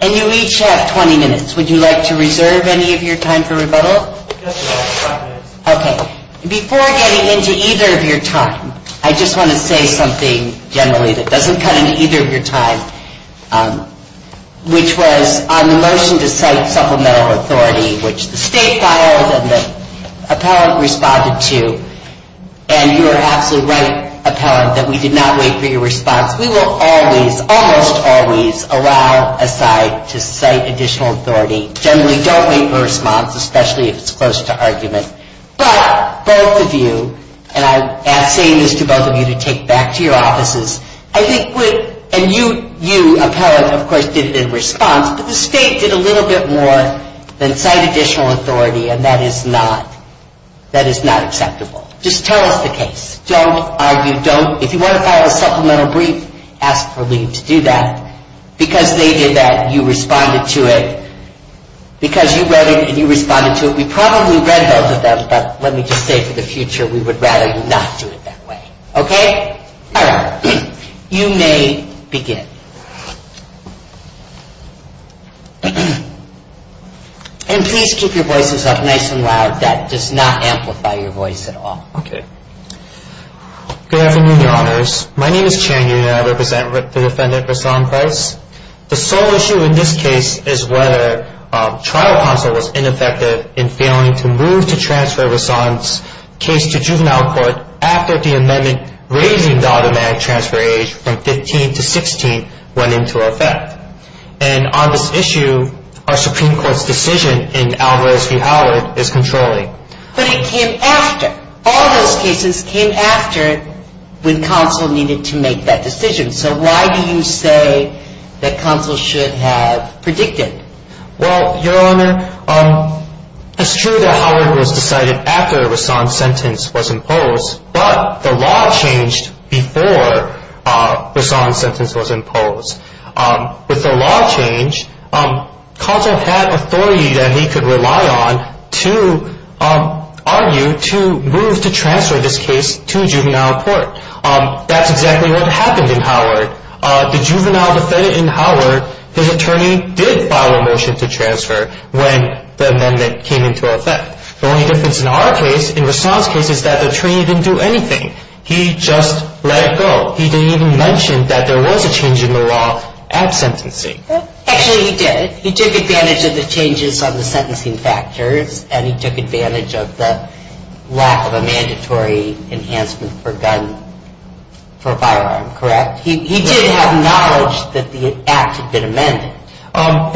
and you each have 20 minutes. Would you like to reserve any of your time for rebuttal? Before getting into either of your time, I just want to say something generally that which was on the motion to cite supplemental authority, which the state filed and the appellant responded to. And you are absolutely right, appellant, that we did not wait for your response. We will always, almost always, allow a site to cite additional authority. Generally, don't wait for a response, especially if it's close to argument. But both of you, and I'm saying this to both of you to take back to your offices, and you, appellant, of course, did it in response. But the state did a little bit more than cite additional authority and that is not acceptable. Just tell us the case. If you want to file a supplemental brief, ask for leave to do that. Because they did that, you responded to it. Because you read it, you responded to it. We probably read both of them, but let me just say for the future, we would rather you not do it that way. Okay? All right. You may begin. And please keep your voices up nice and loud. That does not amplify your voice at all. Okay. Good afternoon, Your Honors. My name is Chan Yu and I represent the defendant, Rahsaan Price. The sole issue in this case is whether trial counsel was ineffective in failing to move to transfer Rahsaan's case to juvenile court after the amendment raising the automatic transfer age from 15 to 16 went into effect. And on this issue, our Supreme Court's decision in Alvarez v. Howard is controlling. But it came after. All those cases came after when counsel needed to make that decision. So why do you say that counsel should have predicted? Well, Your Honor, it's true that Howard was decided after Rahsaan's sentence was imposed, but the law changed before Rahsaan's sentence was imposed. With the law changed, counsel had authority that he could rely on to argue to move to transfer this case to juvenile court. That's exactly what happened in Howard. The juvenile defendant in Howard, his attorney did file a motion to transfer when the amendment came into effect. The only difference in our case, in Rahsaan's case, is that the attorney didn't do anything. He just let it go. He didn't even mention that there was a change in the law at sentencing. Actually, he did. He took advantage of the changes on the sentencing factors, and he took advantage of the lack of a mandatory enhancement for a firearm, correct? He didn't have knowledge that the act had been amended.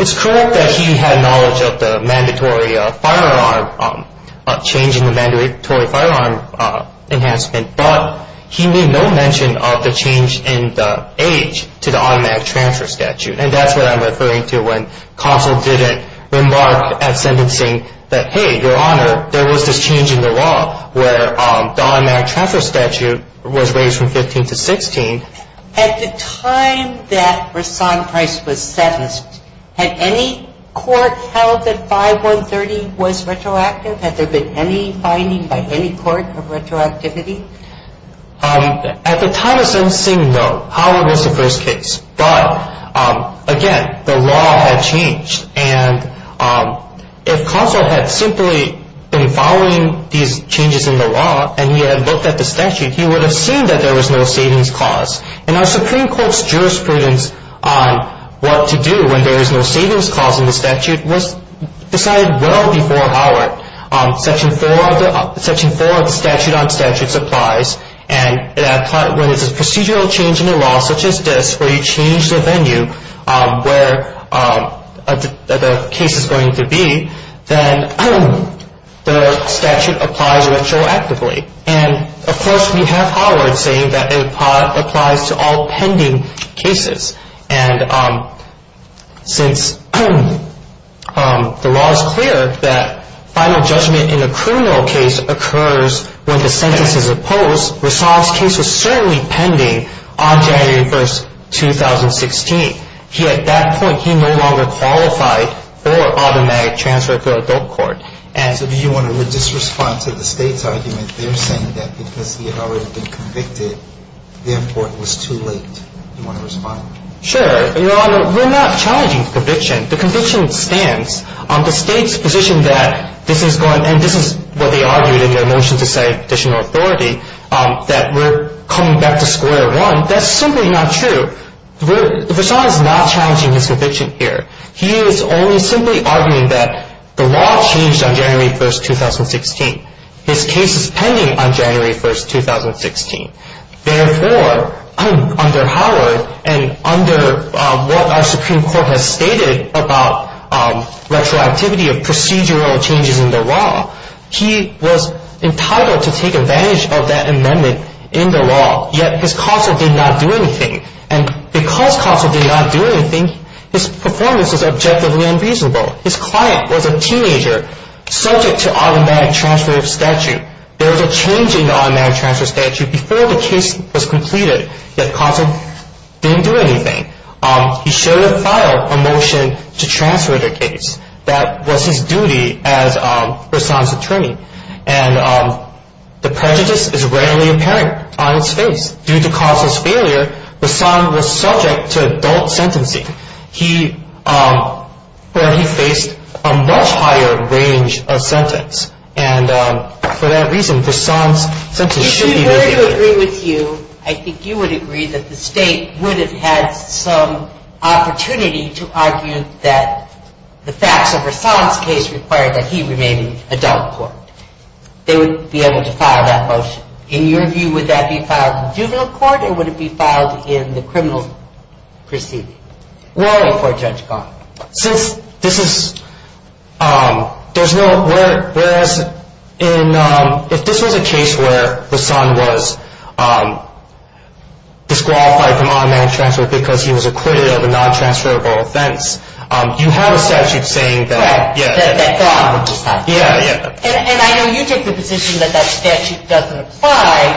It's correct that he had knowledge of the mandatory firearm, changing the mandatory firearm enhancement, but he made no mention of the change in the age to the automatic transfer statute. And that's what I'm referring to when counsel didn't remark at sentencing that, hey, Your Honor, there was this change in the law where the automatic transfer statute was raised from 15 to 16. At the time that Rahsaan Price was sentenced, had any court held that 5-130 was retroactive? Had there been any finding by any court of retroactivity? At the time of sentencing, no. Howard was the first case. But, again, the law had changed. And if counsel had simply been following these changes in the law and he had looked at the statute, he would have seen that there was no savings cause. And our Supreme Court's jurisprudence on what to do when there is no savings cause in the statute was decided well before Howard. Section 4 of the statute on statutes applies. And when it's a procedural change in the law, such as this, where you change the venue where the case is going to be, then the statute applies retroactively. And, of course, we have Howard saying that it applies to all pending cases. And since the law is clear that final judgment in a criminal case occurs when the sentence is opposed, Rahsaan's case was certainly pending on January 1, 2016. At that point, he no longer qualified for automatic transfer to adult court. So do you want to just respond to the state's argument? They're saying that because he had already been convicted, the import was too late. Do you want to respond? Sure. Your Honor, we're not challenging the conviction. The conviction stands. The state's position that this is going, and this is what they argued in their motion to say additional authority, that we're coming back to square one, that's simply not true. Rahsaan is not challenging his conviction here. He is only simply arguing that the law changed on January 1, 2016. His case is pending on January 1, 2016. Therefore, under Howard and under what our Supreme Court has stated about retroactivity of procedural changes in the law, he was entitled to take advantage of that amendment in the law, yet his counsel did not do anything. And because counsel did not do anything, his performance was objectively unreasonable. His client was a teenager subject to automatic transfer of statute. There was a change in the automatic transfer of statute before the case was completed, yet counsel didn't do anything. He should have filed a motion to transfer the case. That was his duty as Rahsaan's attorney. And the prejudice is readily apparent on his face. Due to counsel's failure, Rahsaan was subject to adult sentencing, where he faced a much higher range of sentence. And for that reason, Rahsaan's sentence should be very clear. If we were to agree with you, I think you would agree that the state would have had some opportunity to argue that the facts of Rahsaan's case required that he remain in adult court. They would be able to file that motion. In your view, would that be filed in juvenile court or would it be filed in the criminal proceeding? Since this is – there's no – whereas in – if this was a case where Rahsaan was disqualified from automatic transfer because he was acquitted of a non-transferable offense, you have a statute saying that – Right. Yeah. And I know you take the position that that statute doesn't apply.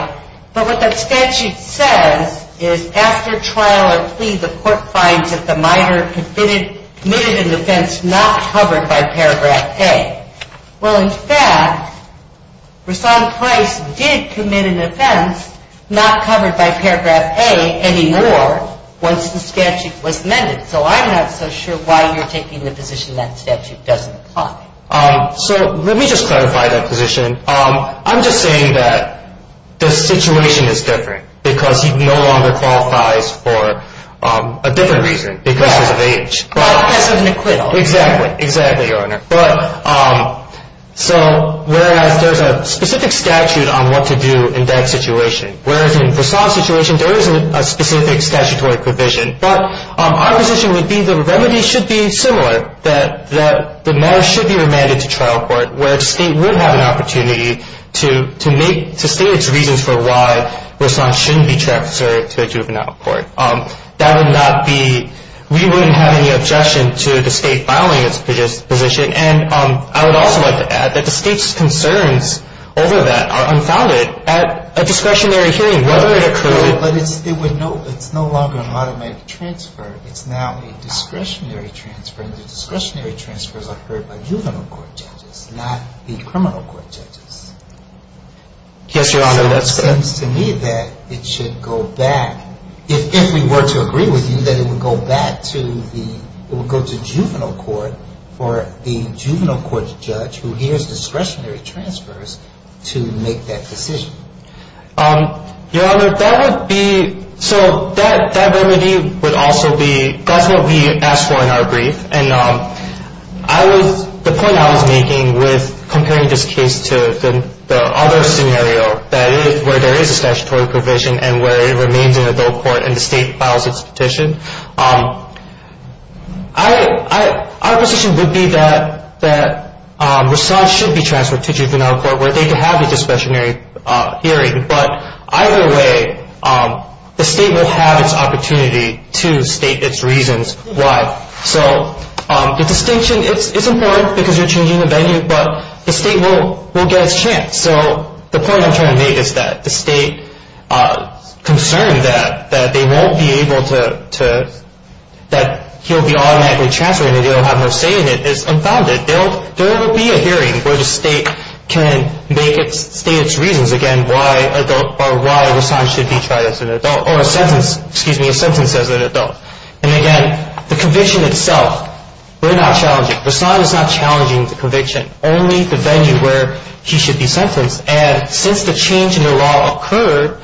Right. But what that statute says is after trial or plea, the court finds that the minor committed an offense not covered by paragraph A. Well, in fact, Rahsaan Price did commit an offense not covered by paragraph A anymore once the statute was amended. So I'm not so sure why you're taking the position that statute doesn't apply. So let me just clarify that position. I'm just saying that the situation is different because he no longer qualifies for a different reason because of age. Right. But that's an acquittal. Exactly. Exactly, Your Honor. So whereas there's a specific statute on what to do in that situation, whereas in Rahsaan's situation, there isn't a specific statutory provision, but our position would be the remedy should be similar, that the minor should be remanded to trial court where the State would have an opportunity to make – to state its reasons for why Rahsaan shouldn't be transferred to a juvenile court. That would not be – we wouldn't have any objection to the State filing its position. And I would also like to add that the State's concerns over that are unfounded. At a discretionary hearing, whether it occurred – But it's no longer an automatic transfer. It's now a discretionary transfer, and the discretionary transfers are heard by juvenile court judges, not the criminal court judges. Yes, Your Honor, that's correct. So it seems to me that it should go back – if we were to agree with you that it would go back to the – it would go to juvenile court for the juvenile court judge who hears discretionary transfers to make that decision. Your Honor, that would be – so that remedy would also be – that's what we asked for in our brief. And I was – the point I was making with comparing this case to the other scenario that is – where there is a statutory provision and where it remains in adult court and the State files its petition, our position would be that Rasaad should be transferred to juvenile court where they can have the discretionary hearing. But either way, the State will have its opportunity to state its reasons why. So the distinction – it's important because you're changing the venue, but the State will get its chance. So the point I'm trying to make is that the State concern that they won't be able to – that he'll be automatically transferred and they don't have no say in it is unfounded. There will be a hearing where the State can make its – state its reasons, again, why adult – or why Rasaad should be tried as an adult – or a sentence – excuse me, a sentence as an adult. And again, the conviction itself, we're not challenging – Rasaad is not challenging the conviction. Only the venue where he should be sentenced. And since the change in the law occurred,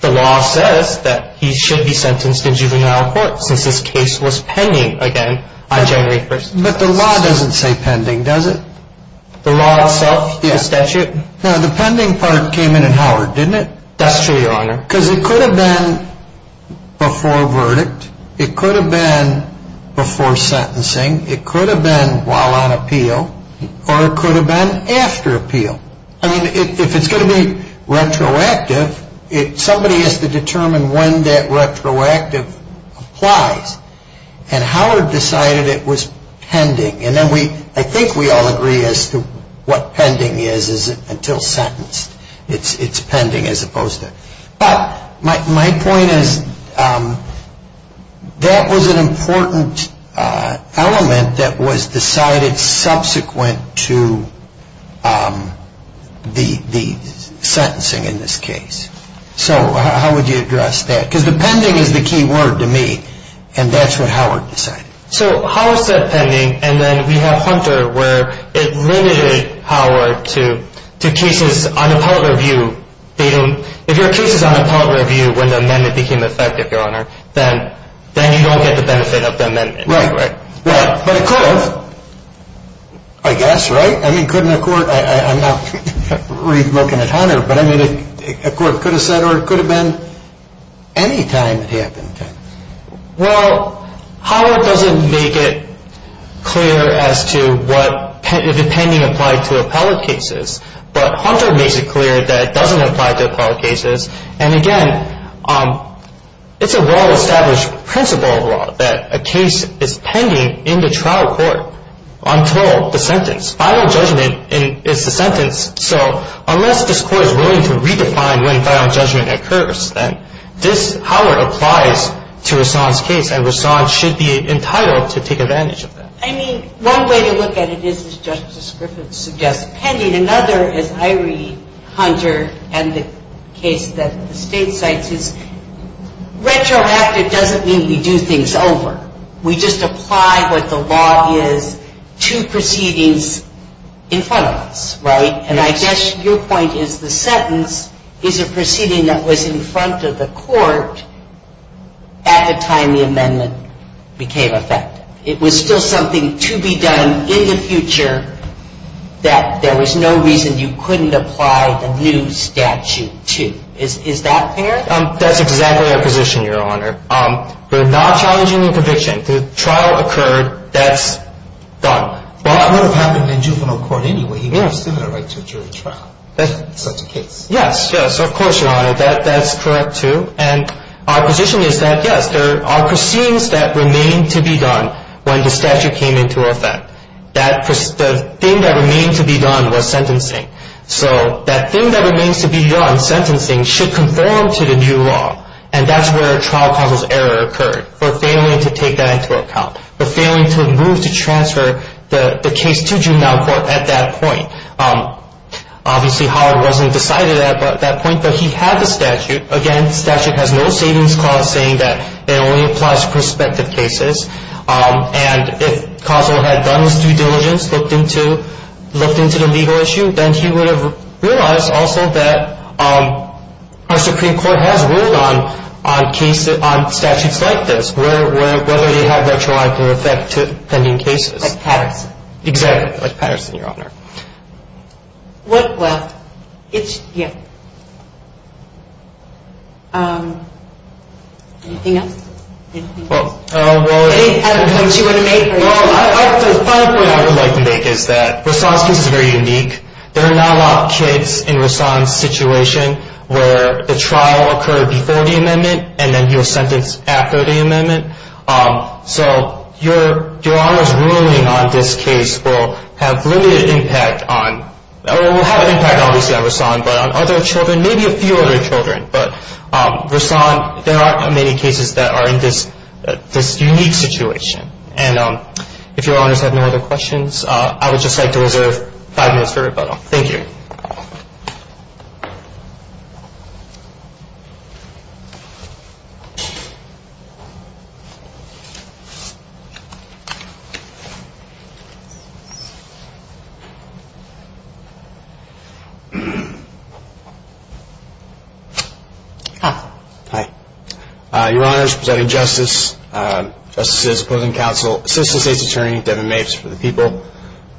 the law says that he should be sentenced in juvenile court since this case was pending, again, on January 1st. But the law doesn't say pending, does it? The law itself, the statute? No, the pending part came in in Howard, didn't it? That's true, Your Honor. Because it could have been before verdict. It could have been before sentencing. It could have been while on appeal. Or it could have been after appeal. I mean, if it's going to be retroactive, somebody has to determine when that retroactive applies. And Howard decided it was pending. And then we – I think we all agree as to what pending is until sentenced. It's pending as opposed to – But my point is that was an important element that was decided subsequent to the sentencing in this case. So how would you address that? Because the pending is the key word to me, and that's what Howard decided. So Howard said pending, and then we have Hunter where it limited Howard to cases on a public review. If your case is on a public review when the amendment became effective, Your Honor, then you don't get the benefit of the amendment. Right. But it could have. I guess, right? I mean, couldn't a court – I'm not really looking at Hunter, but I mean, a court could have said or it could have been any time it happened. Well, Howard doesn't make it clear as to what the pending applied to appellate cases, but Hunter makes it clear that it doesn't apply to appellate cases. And again, it's a well-established principle of law that a case is pending in the trial court until the sentence. Final judgment is the sentence. So unless this court is willing to redefine when final judgment occurs, then this, Howard, applies to Rahsaan's case, and Rahsaan should be entitled to take advantage of that. I mean, one way to look at it is, as Justice Griffiths suggests, pending. Another, as I read Hunter and the case that the State cites, is retroactive doesn't mean we do things over. We just apply what the law is to proceedings in front of us, right? And I guess your point is the sentence is a proceeding that was in front of the court at the time the amendment became effective. It was still something to be done in the future that there was no reason you couldn't apply the new statute to. Is that fair? That's exactly our position, Your Honor. We're not challenging the conviction. The trial occurred. That's done. Well, that would have happened in juvenile court anyway. You may have still got a right to a jury trial in such a case. Yes, yes. Of course, Your Honor. That's correct, too. And our position is that, yes, there are proceedings that remain to be done when the statute came into effect. The thing that remained to be done was sentencing. So that thing that remains to be done, sentencing, should conform to the new law, and that's where a trial causes error occurred for failing to take that into account, for failing to move to transfer the case to juvenile court at that point. Obviously, Howard wasn't decided at that point, but he had the statute. Again, the statute has no savings clause saying that it only applies to prospective cases. And if Kozol had done his due diligence, looked into the legal issue, then he would have realized also that our Supreme Court has ruled on statutes like this, whether they have retroactive effect to pending cases. Like Patterson. Exactly, like Patterson, Your Honor. Well, it's, yeah. Anything else? Anything else you want to make? The final point I would like to make is that Rassan's case is very unique. There are not a lot of kids in Rassan's situation where the trial occurred before the amendment and then he was sentenced after the amendment. So Your Honor's ruling on this case will have limited impact on, or will have an impact obviously on Rassan, but on other children, maybe a few other children. But Rassan, there aren't many cases that are in this unique situation. And if Your Honors have no other questions, I would just like to reserve five minutes for rebuttal. Thank you. Hi. Hi. Your Honors, presenting justice, justices opposing counsel, Assistant State's Attorney, Devin Mapes for the people.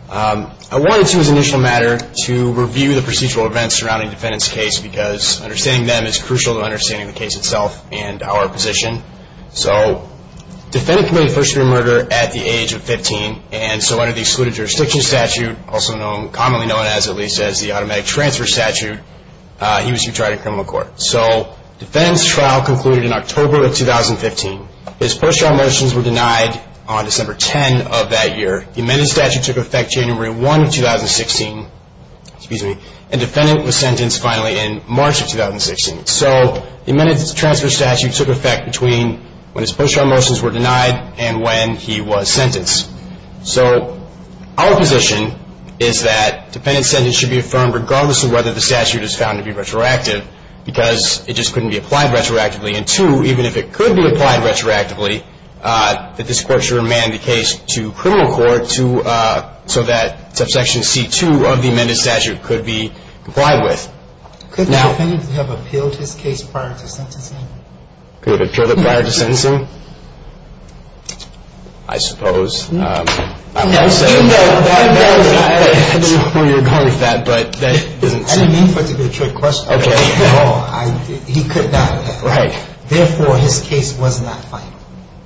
I wanted to, as an initial matter, to review the procedural events surrounding the defendant's case because understanding them is crucial to understanding the case itself and our position. So the defendant committed first degree murder at the age of 15, and so under the Excluded Jurisdiction Statute, also commonly known as, at least, as the Automatic Transfer Statute, he was to be tried in criminal court. So the defendant's trial concluded in October of 2015. His first trial motions were denied on December 10 of that year. The amended statute took effect January 1 of 2016, and the defendant was sentenced finally in March of 2016. So the amended transfer statute took effect between when his first trial motions were denied and when he was sentenced. So our position is that the defendant's sentence should be affirmed, regardless of whether the statute is found to be retroactive, because it just couldn't be applied retroactively. And two, even if it could be applied retroactively, that this Court should remand the case to criminal court so that subsection C-2 of the amended statute could be complied with. Could the defendant have appealed his case prior to sentencing? Could have appealed it prior to sentencing? I suppose. I don't know where you're going with that. I didn't mean for it to be a trick question. Okay. He could not have. Right. Therefore, his case was not final.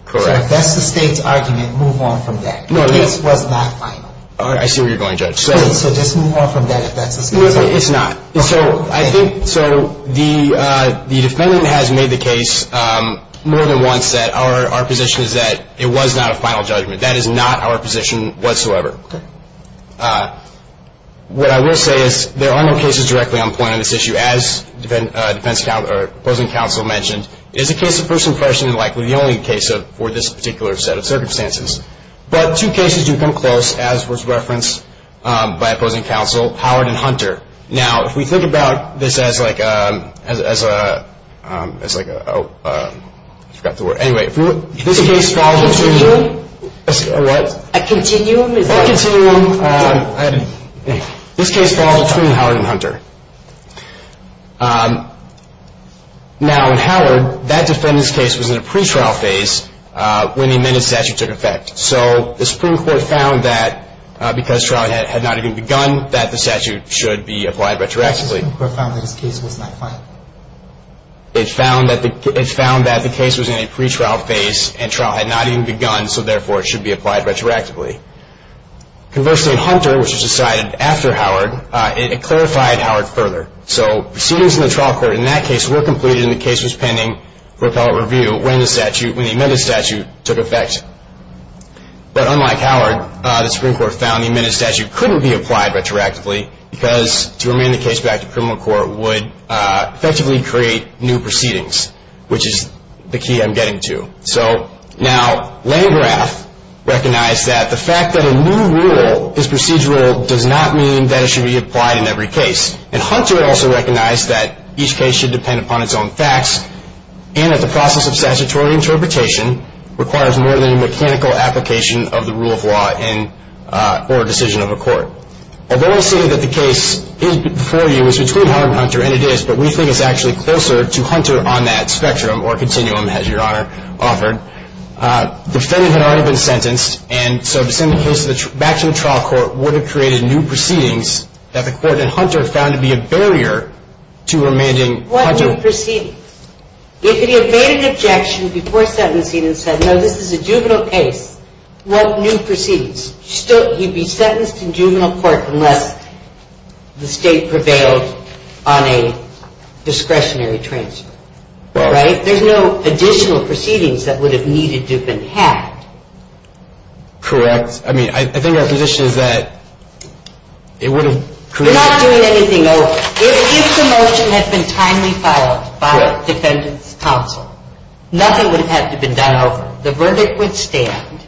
Correct. So if that's the State's argument, move on from that. The case was not final. I see where you're going, Judge. So just move on from that if that's the State's argument. It's not. So I think the defendant has made the case more than once that our position is that it was not a final judgment. That is not our position whatsoever. Okay. What I will say is there are no cases directly on point on this issue, as opposing counsel mentioned. It is a case of first impression and likely the only case for this particular set of circumstances. But two cases do come close, as was referenced by opposing counsel, Howard and Hunter. Now, if we think about this as like a – I forgot the word. Anyway, if this case follows a continuum. A what? A continuum. A continuum. This case falls between Howard and Hunter. Now, in Howard, that defendant's case was in a pretrial phase when the amended statute took effect. So the Supreme Court found that because trial had not even begun that the statute should be applied retroactively. The Supreme Court found that his case was not final. It found that the case was in a pretrial phase and trial had not even begun, so therefore it should be applied retroactively. Conversely, in Hunter, which was decided after Howard, it clarified Howard further. So proceedings in the trial court in that case were completed and the case was pending for appellate review when the amended statute took effect. But unlike Howard, the Supreme Court found the amended statute couldn't be applied retroactively because to remand the case back to criminal court would effectively create new proceedings, which is the key I'm getting to. So now Landgraf recognized that the fact that a new rule is procedural does not mean that it should be applied in every case. And Hunter also recognized that each case should depend upon its own facts and that the process of statutory interpretation requires more than a mechanical application of the rule of law or a decision of a court. Although I say that the case is before you, it's between Howard and Hunter, and it is, but we think it's actually closer to Hunter on that spectrum or continuum, as Your Honor offered. The defendant had already been sentenced, and so to send the case back to the trial court would have created new proceedings that the court in Hunter found to be a barrier to remanding Hunter. What new proceedings? If he had made an objection before sentencing and said, no, this is a juvenile case, what new proceedings? He'd be sentenced in juvenile court unless the state prevailed on a discretionary transfer, right? There's no additional proceedings that would have needed to have been had. Correct. I mean, I think our position is that it wouldn't create... We're not doing anything over. If the motion had been timely filed by the defendant's counsel, nothing would have had to have been done over. The verdict would stand,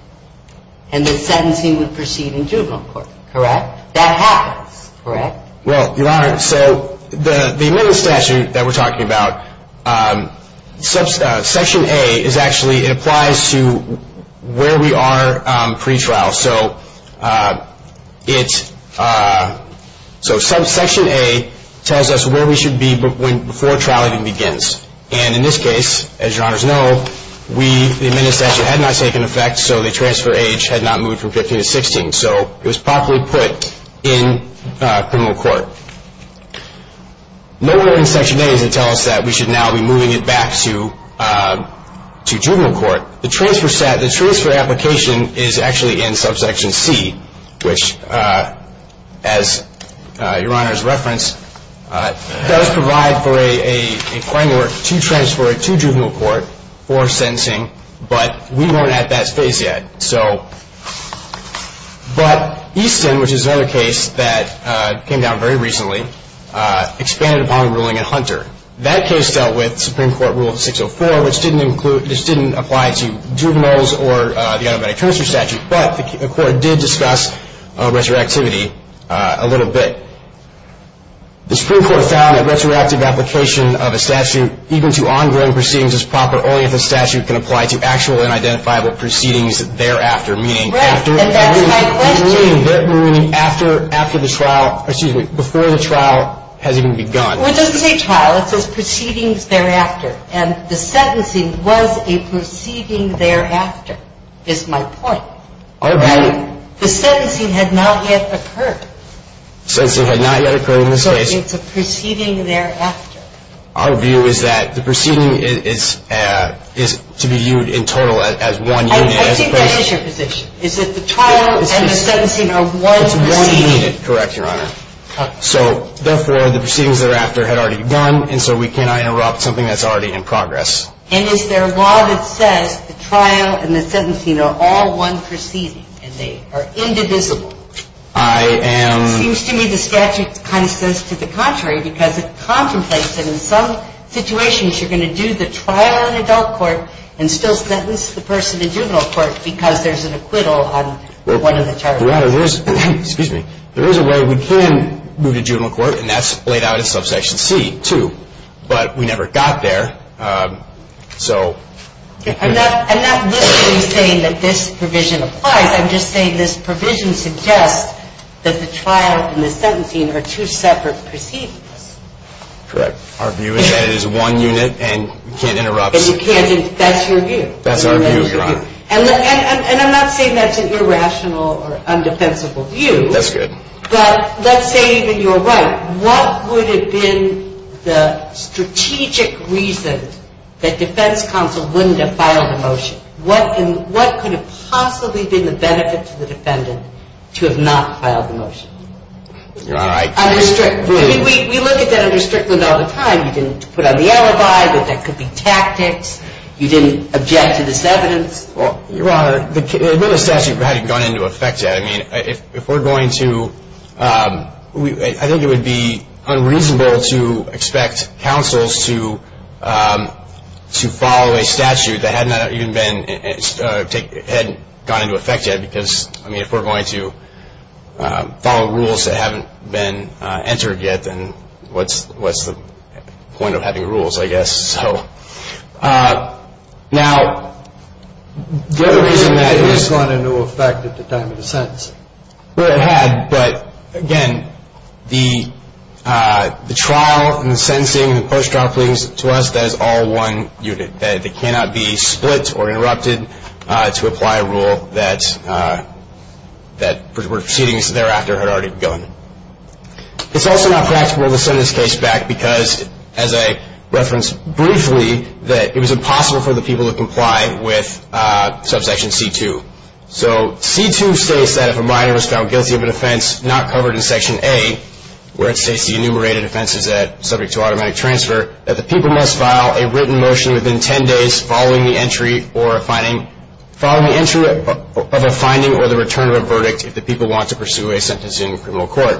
and the sentencing would proceed in juvenile court, correct? That happens, correct? Well, Your Honor, so the amendment statute that we're talking about, Section A is actually, it applies to where we are pre-trial. So it's, so Section A tells us where we should be before trial even begins. And in this case, as Your Honor's know, we, the amendment statute had not taken effect, so the transfer age had not moved from 15 to 16. So it was properly put in criminal court. Nowhere in Section A does it tell us that we should now be moving it back to juvenile court. The transfer application is actually in Subsection C, which, as Your Honor's reference, does provide for a framework to transfer it to juvenile court for sentencing, but we weren't at that phase yet. So, but Easton, which is another case that came down very recently, expanded upon ruling in Hunter. That case dealt with Supreme Court Rule 604, which didn't include, which didn't apply to juveniles or the automatic transfer statute, but the court did discuss retroactivity a little bit. The Supreme Court found that retroactive application of a statute even to ongoing proceedings is proper only if the statute can apply to actual and identifiable proceedings thereafter, meaning after. Right, and that's my question. Meaning after the trial, or excuse me, before the trial has even begun. It doesn't say trial. It says proceedings thereafter. And the sentencing was a proceeding thereafter, is my point. All right. The sentencing had not yet occurred. The sentencing had not yet occurred in this case. So it's a proceeding thereafter. Our view is that the proceeding is to be viewed in total as one unit. I think that is your position, is that the trial and the sentencing are one proceeding. It's one unit. Correct, Your Honor. So, therefore, the proceedings thereafter had already begun, and so we cannot interrupt something that's already in progress. And is there a law that says the trial and the sentencing are all one proceeding and they are indivisible? I am. It seems to me the statute kind of says to the contrary because it contemplates that in some situations you're going to do the trial in adult court and still sentence the person in juvenile court because there's an acquittal on one of the charges. Excuse me. There is a way we can move to juvenile court, and that's laid out in Subsection C, too. But we never got there, so. I'm not literally saying that this provision applies. I'm just saying this provision suggests that the trial and the sentencing are two separate proceedings. Correct. Our view is that it is one unit and we can't interrupt. That's your view. That's our view, Your Honor. And I'm not saying that's an irrational or undefensible view. That's good. But let's say that you're right. What would have been the strategic reason that defense counsel wouldn't have filed a motion? What could have possibly been the benefit to the defendant to have not filed the motion? Your Honor, I. We look at that under Strickland all the time. You didn't put on the alibi that there could be tactics. You didn't object to this evidence. Your Honor, the statute hadn't gone into effect yet. I mean, if we're going to ‑‑ I think it would be unreasonable to expect counsels to follow a statute that hadn't gone into effect yet because, I mean, if we're going to follow rules that haven't been entered yet, then what's the point of having rules, I guess? Now, the other reason that it has gone into effect at the time of the sentence, well, it had, but, again, the trial and the sentencing and the post-trial pleadings to us, that is all one unit. They cannot be split or interrupted to apply a rule that proceedings thereafter had already begun. It's also not practical to send this case back because, as I referenced briefly, that it was impossible for the people to comply with subsection C2. So C2 states that if a minor is found guilty of an offense not covered in Section A, where it states the enumerated offenses subject to automatic transfer, that the people must file a written motion within 10 days following the entry of a finding or the return of a verdict if the people want to pursue a sentence in criminal court.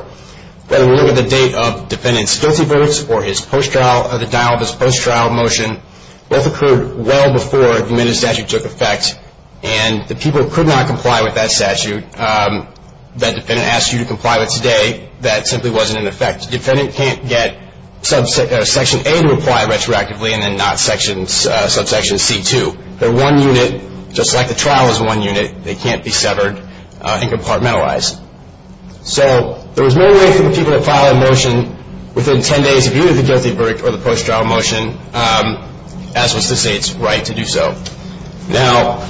Whether we look at the date of the defendant's guilty votes or the dial of his post-trial motion, both occurred well before the amended statute took effect, and the people could not comply with that statute that the defendant asked you to comply with today. That simply wasn't in effect. The defendant can't get Section A to apply retroactively and then not subsection C2. They're one unit, just like the trial is one unit. They can't be severed and compartmentalized. So there was no way for the people to file a motion within 10 days of either the guilty verdict or the post-trial motion as was the State's right to do so. Now,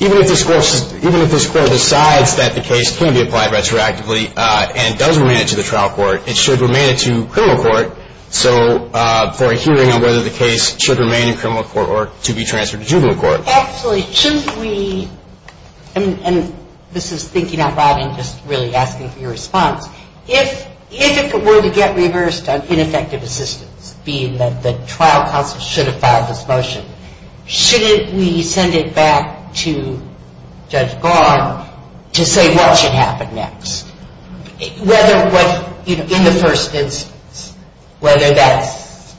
even if this Court decides that the case can be applied retroactively and does remain it to the trial court, it should remain it to criminal court. So for a hearing on whether the case should remain in criminal court or to be transferred to juvenile court. Actually, shouldn't we, and this is thinking out loud and just really asking for your response, if it were to get reversed on ineffective assistance, being that the trial counsel should have filed this motion, shouldn't we send it back to Judge Barr to say what should happen next? Whether what, you know, in the first instance, whether that's...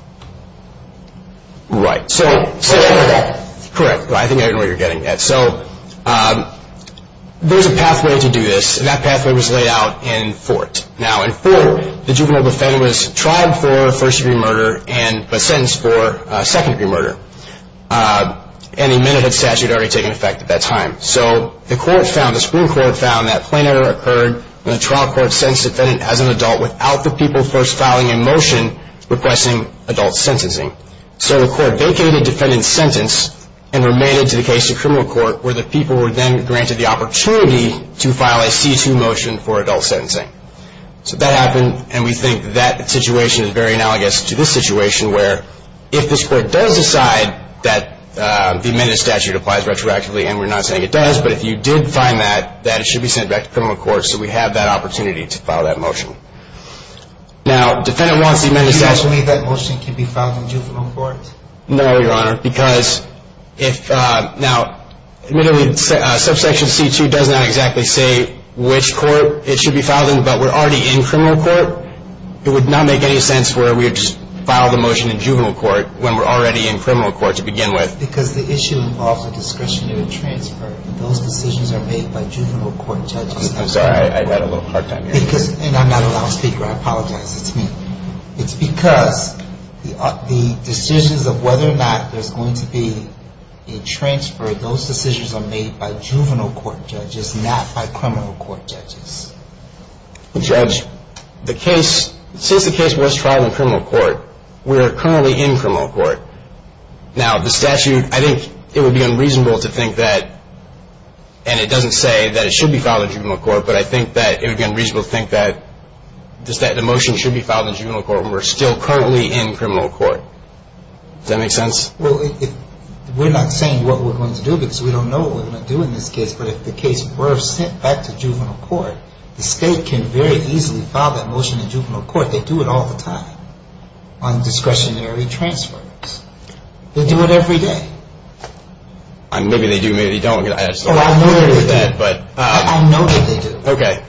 Right. Whatever that is. Correct. I think I know what you're getting at. So there's a pathway to do this, and that pathway was laid out in Fort. Now, in Fort, the juvenile defendant was tried for first-degree murder and was sentenced for second-degree murder. And a Minnehaha statute had already taken effect at that time. So the court found, the Supreme Court found that plain error occurred when a trial court sentenced a defendant as an adult without the people first filing a motion requesting adult sentencing. So the court vacated defendant's sentence and remained it to the case in criminal court where the people were then granted the opportunity to file a C-2 motion for adult sentencing. So that happened, and we think that situation is very analogous to this situation where if this court does decide that the amended statute applies retroactively, and we're not saying it does, but if you did find that, that it should be sent back to criminal court so we have that opportunity to file that motion. Now, defendant wants the amended statute... Are you asking me if that motion can be filed in juvenile court? No, Your Honor, because if... Now, admittedly, subsection C-2 does not exactly say which court it should be filed in, but we're already in criminal court. It would not make any sense where we would just file the motion in juvenile court when we're already in criminal court to begin with. Because the issue involves a discretionary transfer. Those decisions are made by juvenile court judges. I'm sorry, I've had a little hard time hearing you. And I'm not allowed to speak, or I apologize. It's me. It's because the decisions of whether or not there's going to be a transfer, those decisions are made by juvenile court judges, not by criminal court judges. Judge, the case... Since the case was trialed in criminal court, we are currently in criminal court. Now, the statute, I think it would be unreasonable to think that, and it doesn't say that it should be filed in juvenile court, but I think that it would be unreasonable to think that the motion should be filed in juvenile court when we're still currently in criminal court. Does that make sense? Well, we're not saying what we're going to do because we don't know what we're going to do in this case, but if the case were sent back to juvenile court, the state can very easily file that motion in juvenile court. They do it all the time on discretionary transfers. They do it every day. Maybe they do, maybe they don't. Oh, I know that they do. I know that they do. Okay.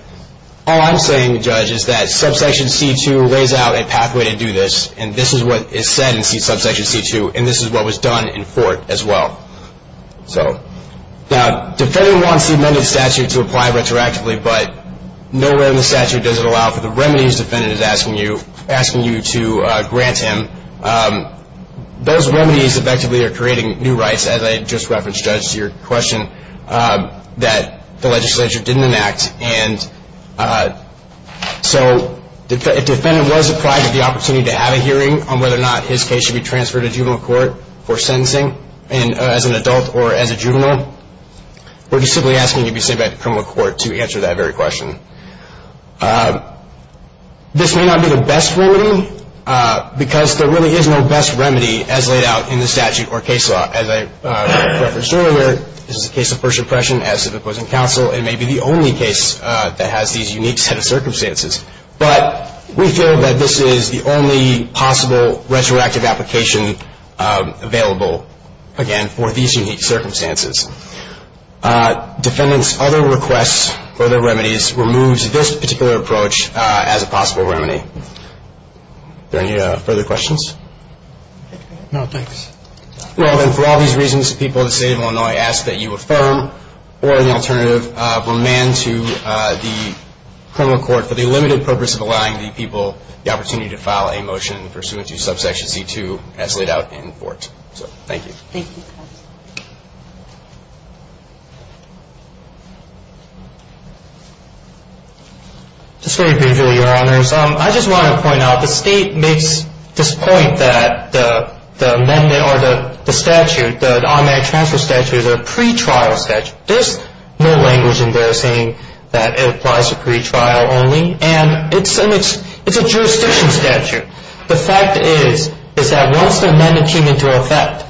All I'm saying, Judge, is that Subsection C-2 lays out a pathway to do this, and this is what is said in Subsection C-2, and this is what was done in Fort as well. Now, the defendant wants the amended statute to apply retroactively, but nowhere in the statute does it allow for the remedies the defendant is asking you to grant him. Those remedies effectively are creating new rights, as I just referenced, Judge, to your question, that the legislature didn't enact. And so if the defendant was deprived of the opportunity to have a hearing on whether or not his case should be transferred to juvenile court for sentencing as an adult or as a juvenile, we're just simply asking it be sent back to criminal court to answer that very question. This may not be the best remedy because there really is no best remedy as laid out in the statute or case law. As I referenced earlier, this is a case of first impression as to the opposing counsel. It may be the only case that has these unique set of circumstances. But we feel that this is the only possible retroactive application available, again, for these unique circumstances. Defendants' other requests for their remedies removes this particular approach as a possible remedy. Are there any further questions? No, thanks. Well, then, for all these reasons, the people of the State of Illinois ask that you affirm or, in the alternative, remand to the criminal court for the limited purpose of allowing the people the opportunity to file a motion pursuant to Subsection C-2 as laid out in Fort. So thank you. Thank you. Just very briefly, Your Honors, I just want to point out the State makes this point that the amendment or the statute, the automatic transfer statute is a pretrial statute. There's no language in there saying that it applies to pretrial only. And it's a jurisdiction statute. The fact is, is that once the amendment came into effect,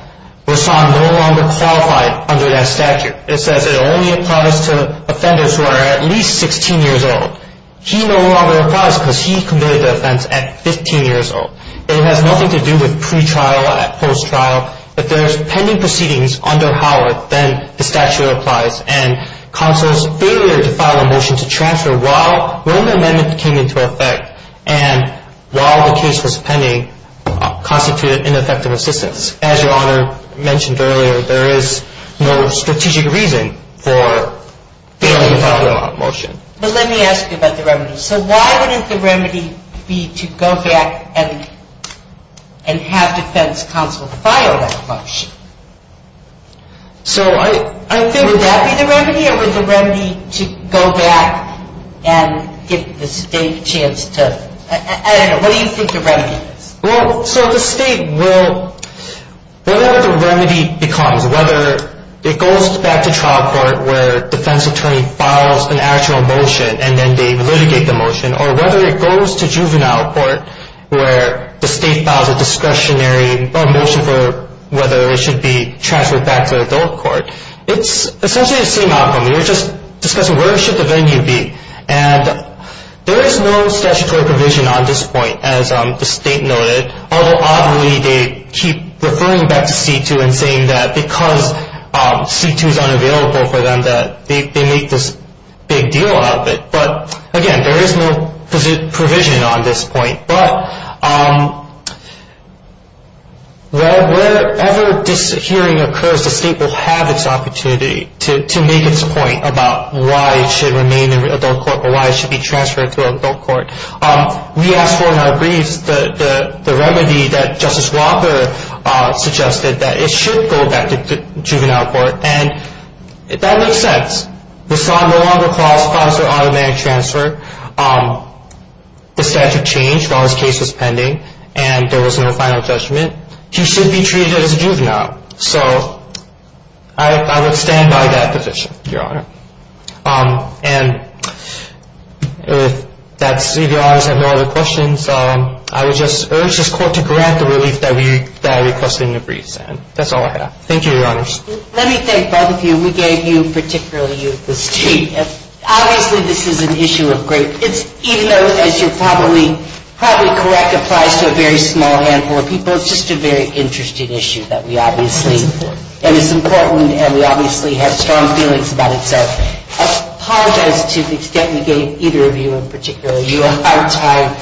Rahsaan no longer qualified under that statute. It says it only applies to offenders who are at least 16 years old. He no longer applies because he committed the offense at 15 years old. It has nothing to do with pretrial or post-trial. If there's pending proceedings under Howard, then the statute applies. And counsel's failure to file a motion to transfer while the amendment came into effect and while the case was pending constituted ineffective assistance. As Your Honor mentioned earlier, there is no strategic reason for failing to file a motion. But let me ask you about the remedy. So why wouldn't the remedy be to go back and have defense counsel file that motion? Would that be the remedy? Or would the remedy be to go back and give the State a chance to, I don't know, what do you think the remedy is? Well, so the State will, whatever the remedy becomes, whether it goes back to trial court where defense attorney files an actual motion and then they litigate the motion, or whether it goes to juvenile court where the State files a discretionary motion for whether it should be transferred back to adult court, it's essentially the same outcome. We were just discussing where should the venue be. And there is no statutory provision on this point, as the State noted, although oddly they keep referring back to C-2 and saying that because C-2 is unavailable for them that they make this big deal out of it. But again, there is no provision on this point. But wherever this hearing occurs, the State will have its opportunity to make its point about why it should remain in adult court or why it should be transferred to adult court. We asked for in our briefs the remedy that Justice Walker suggested, that it should go back to juvenile court. And that makes sense. The son no longer calls files for automatic transfer. The statute changed while his case was pending, and there was no final judgment. He should be treated as a juvenile. So I would stand by that position, Your Honor. And that's it, Your Honors. I have no other questions. I would just urge this Court to correct the relief that I requested in the briefs. And that's all I have. Thank you, Your Honors. Let me thank both of you. We gave you particularly, you, the State. Obviously, this is an issue of great – even though, as you're probably correct, applies to a very small handful of people, it's just a very interesting issue that we obviously – That's important. So I apologize to the extent we gave either of you in particular. You, on our time,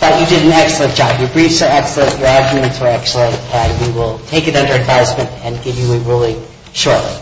thought you did an excellent job. Your briefs were excellent. Your arguments were excellent. And we will take it under advisement and give you a ruling shortly.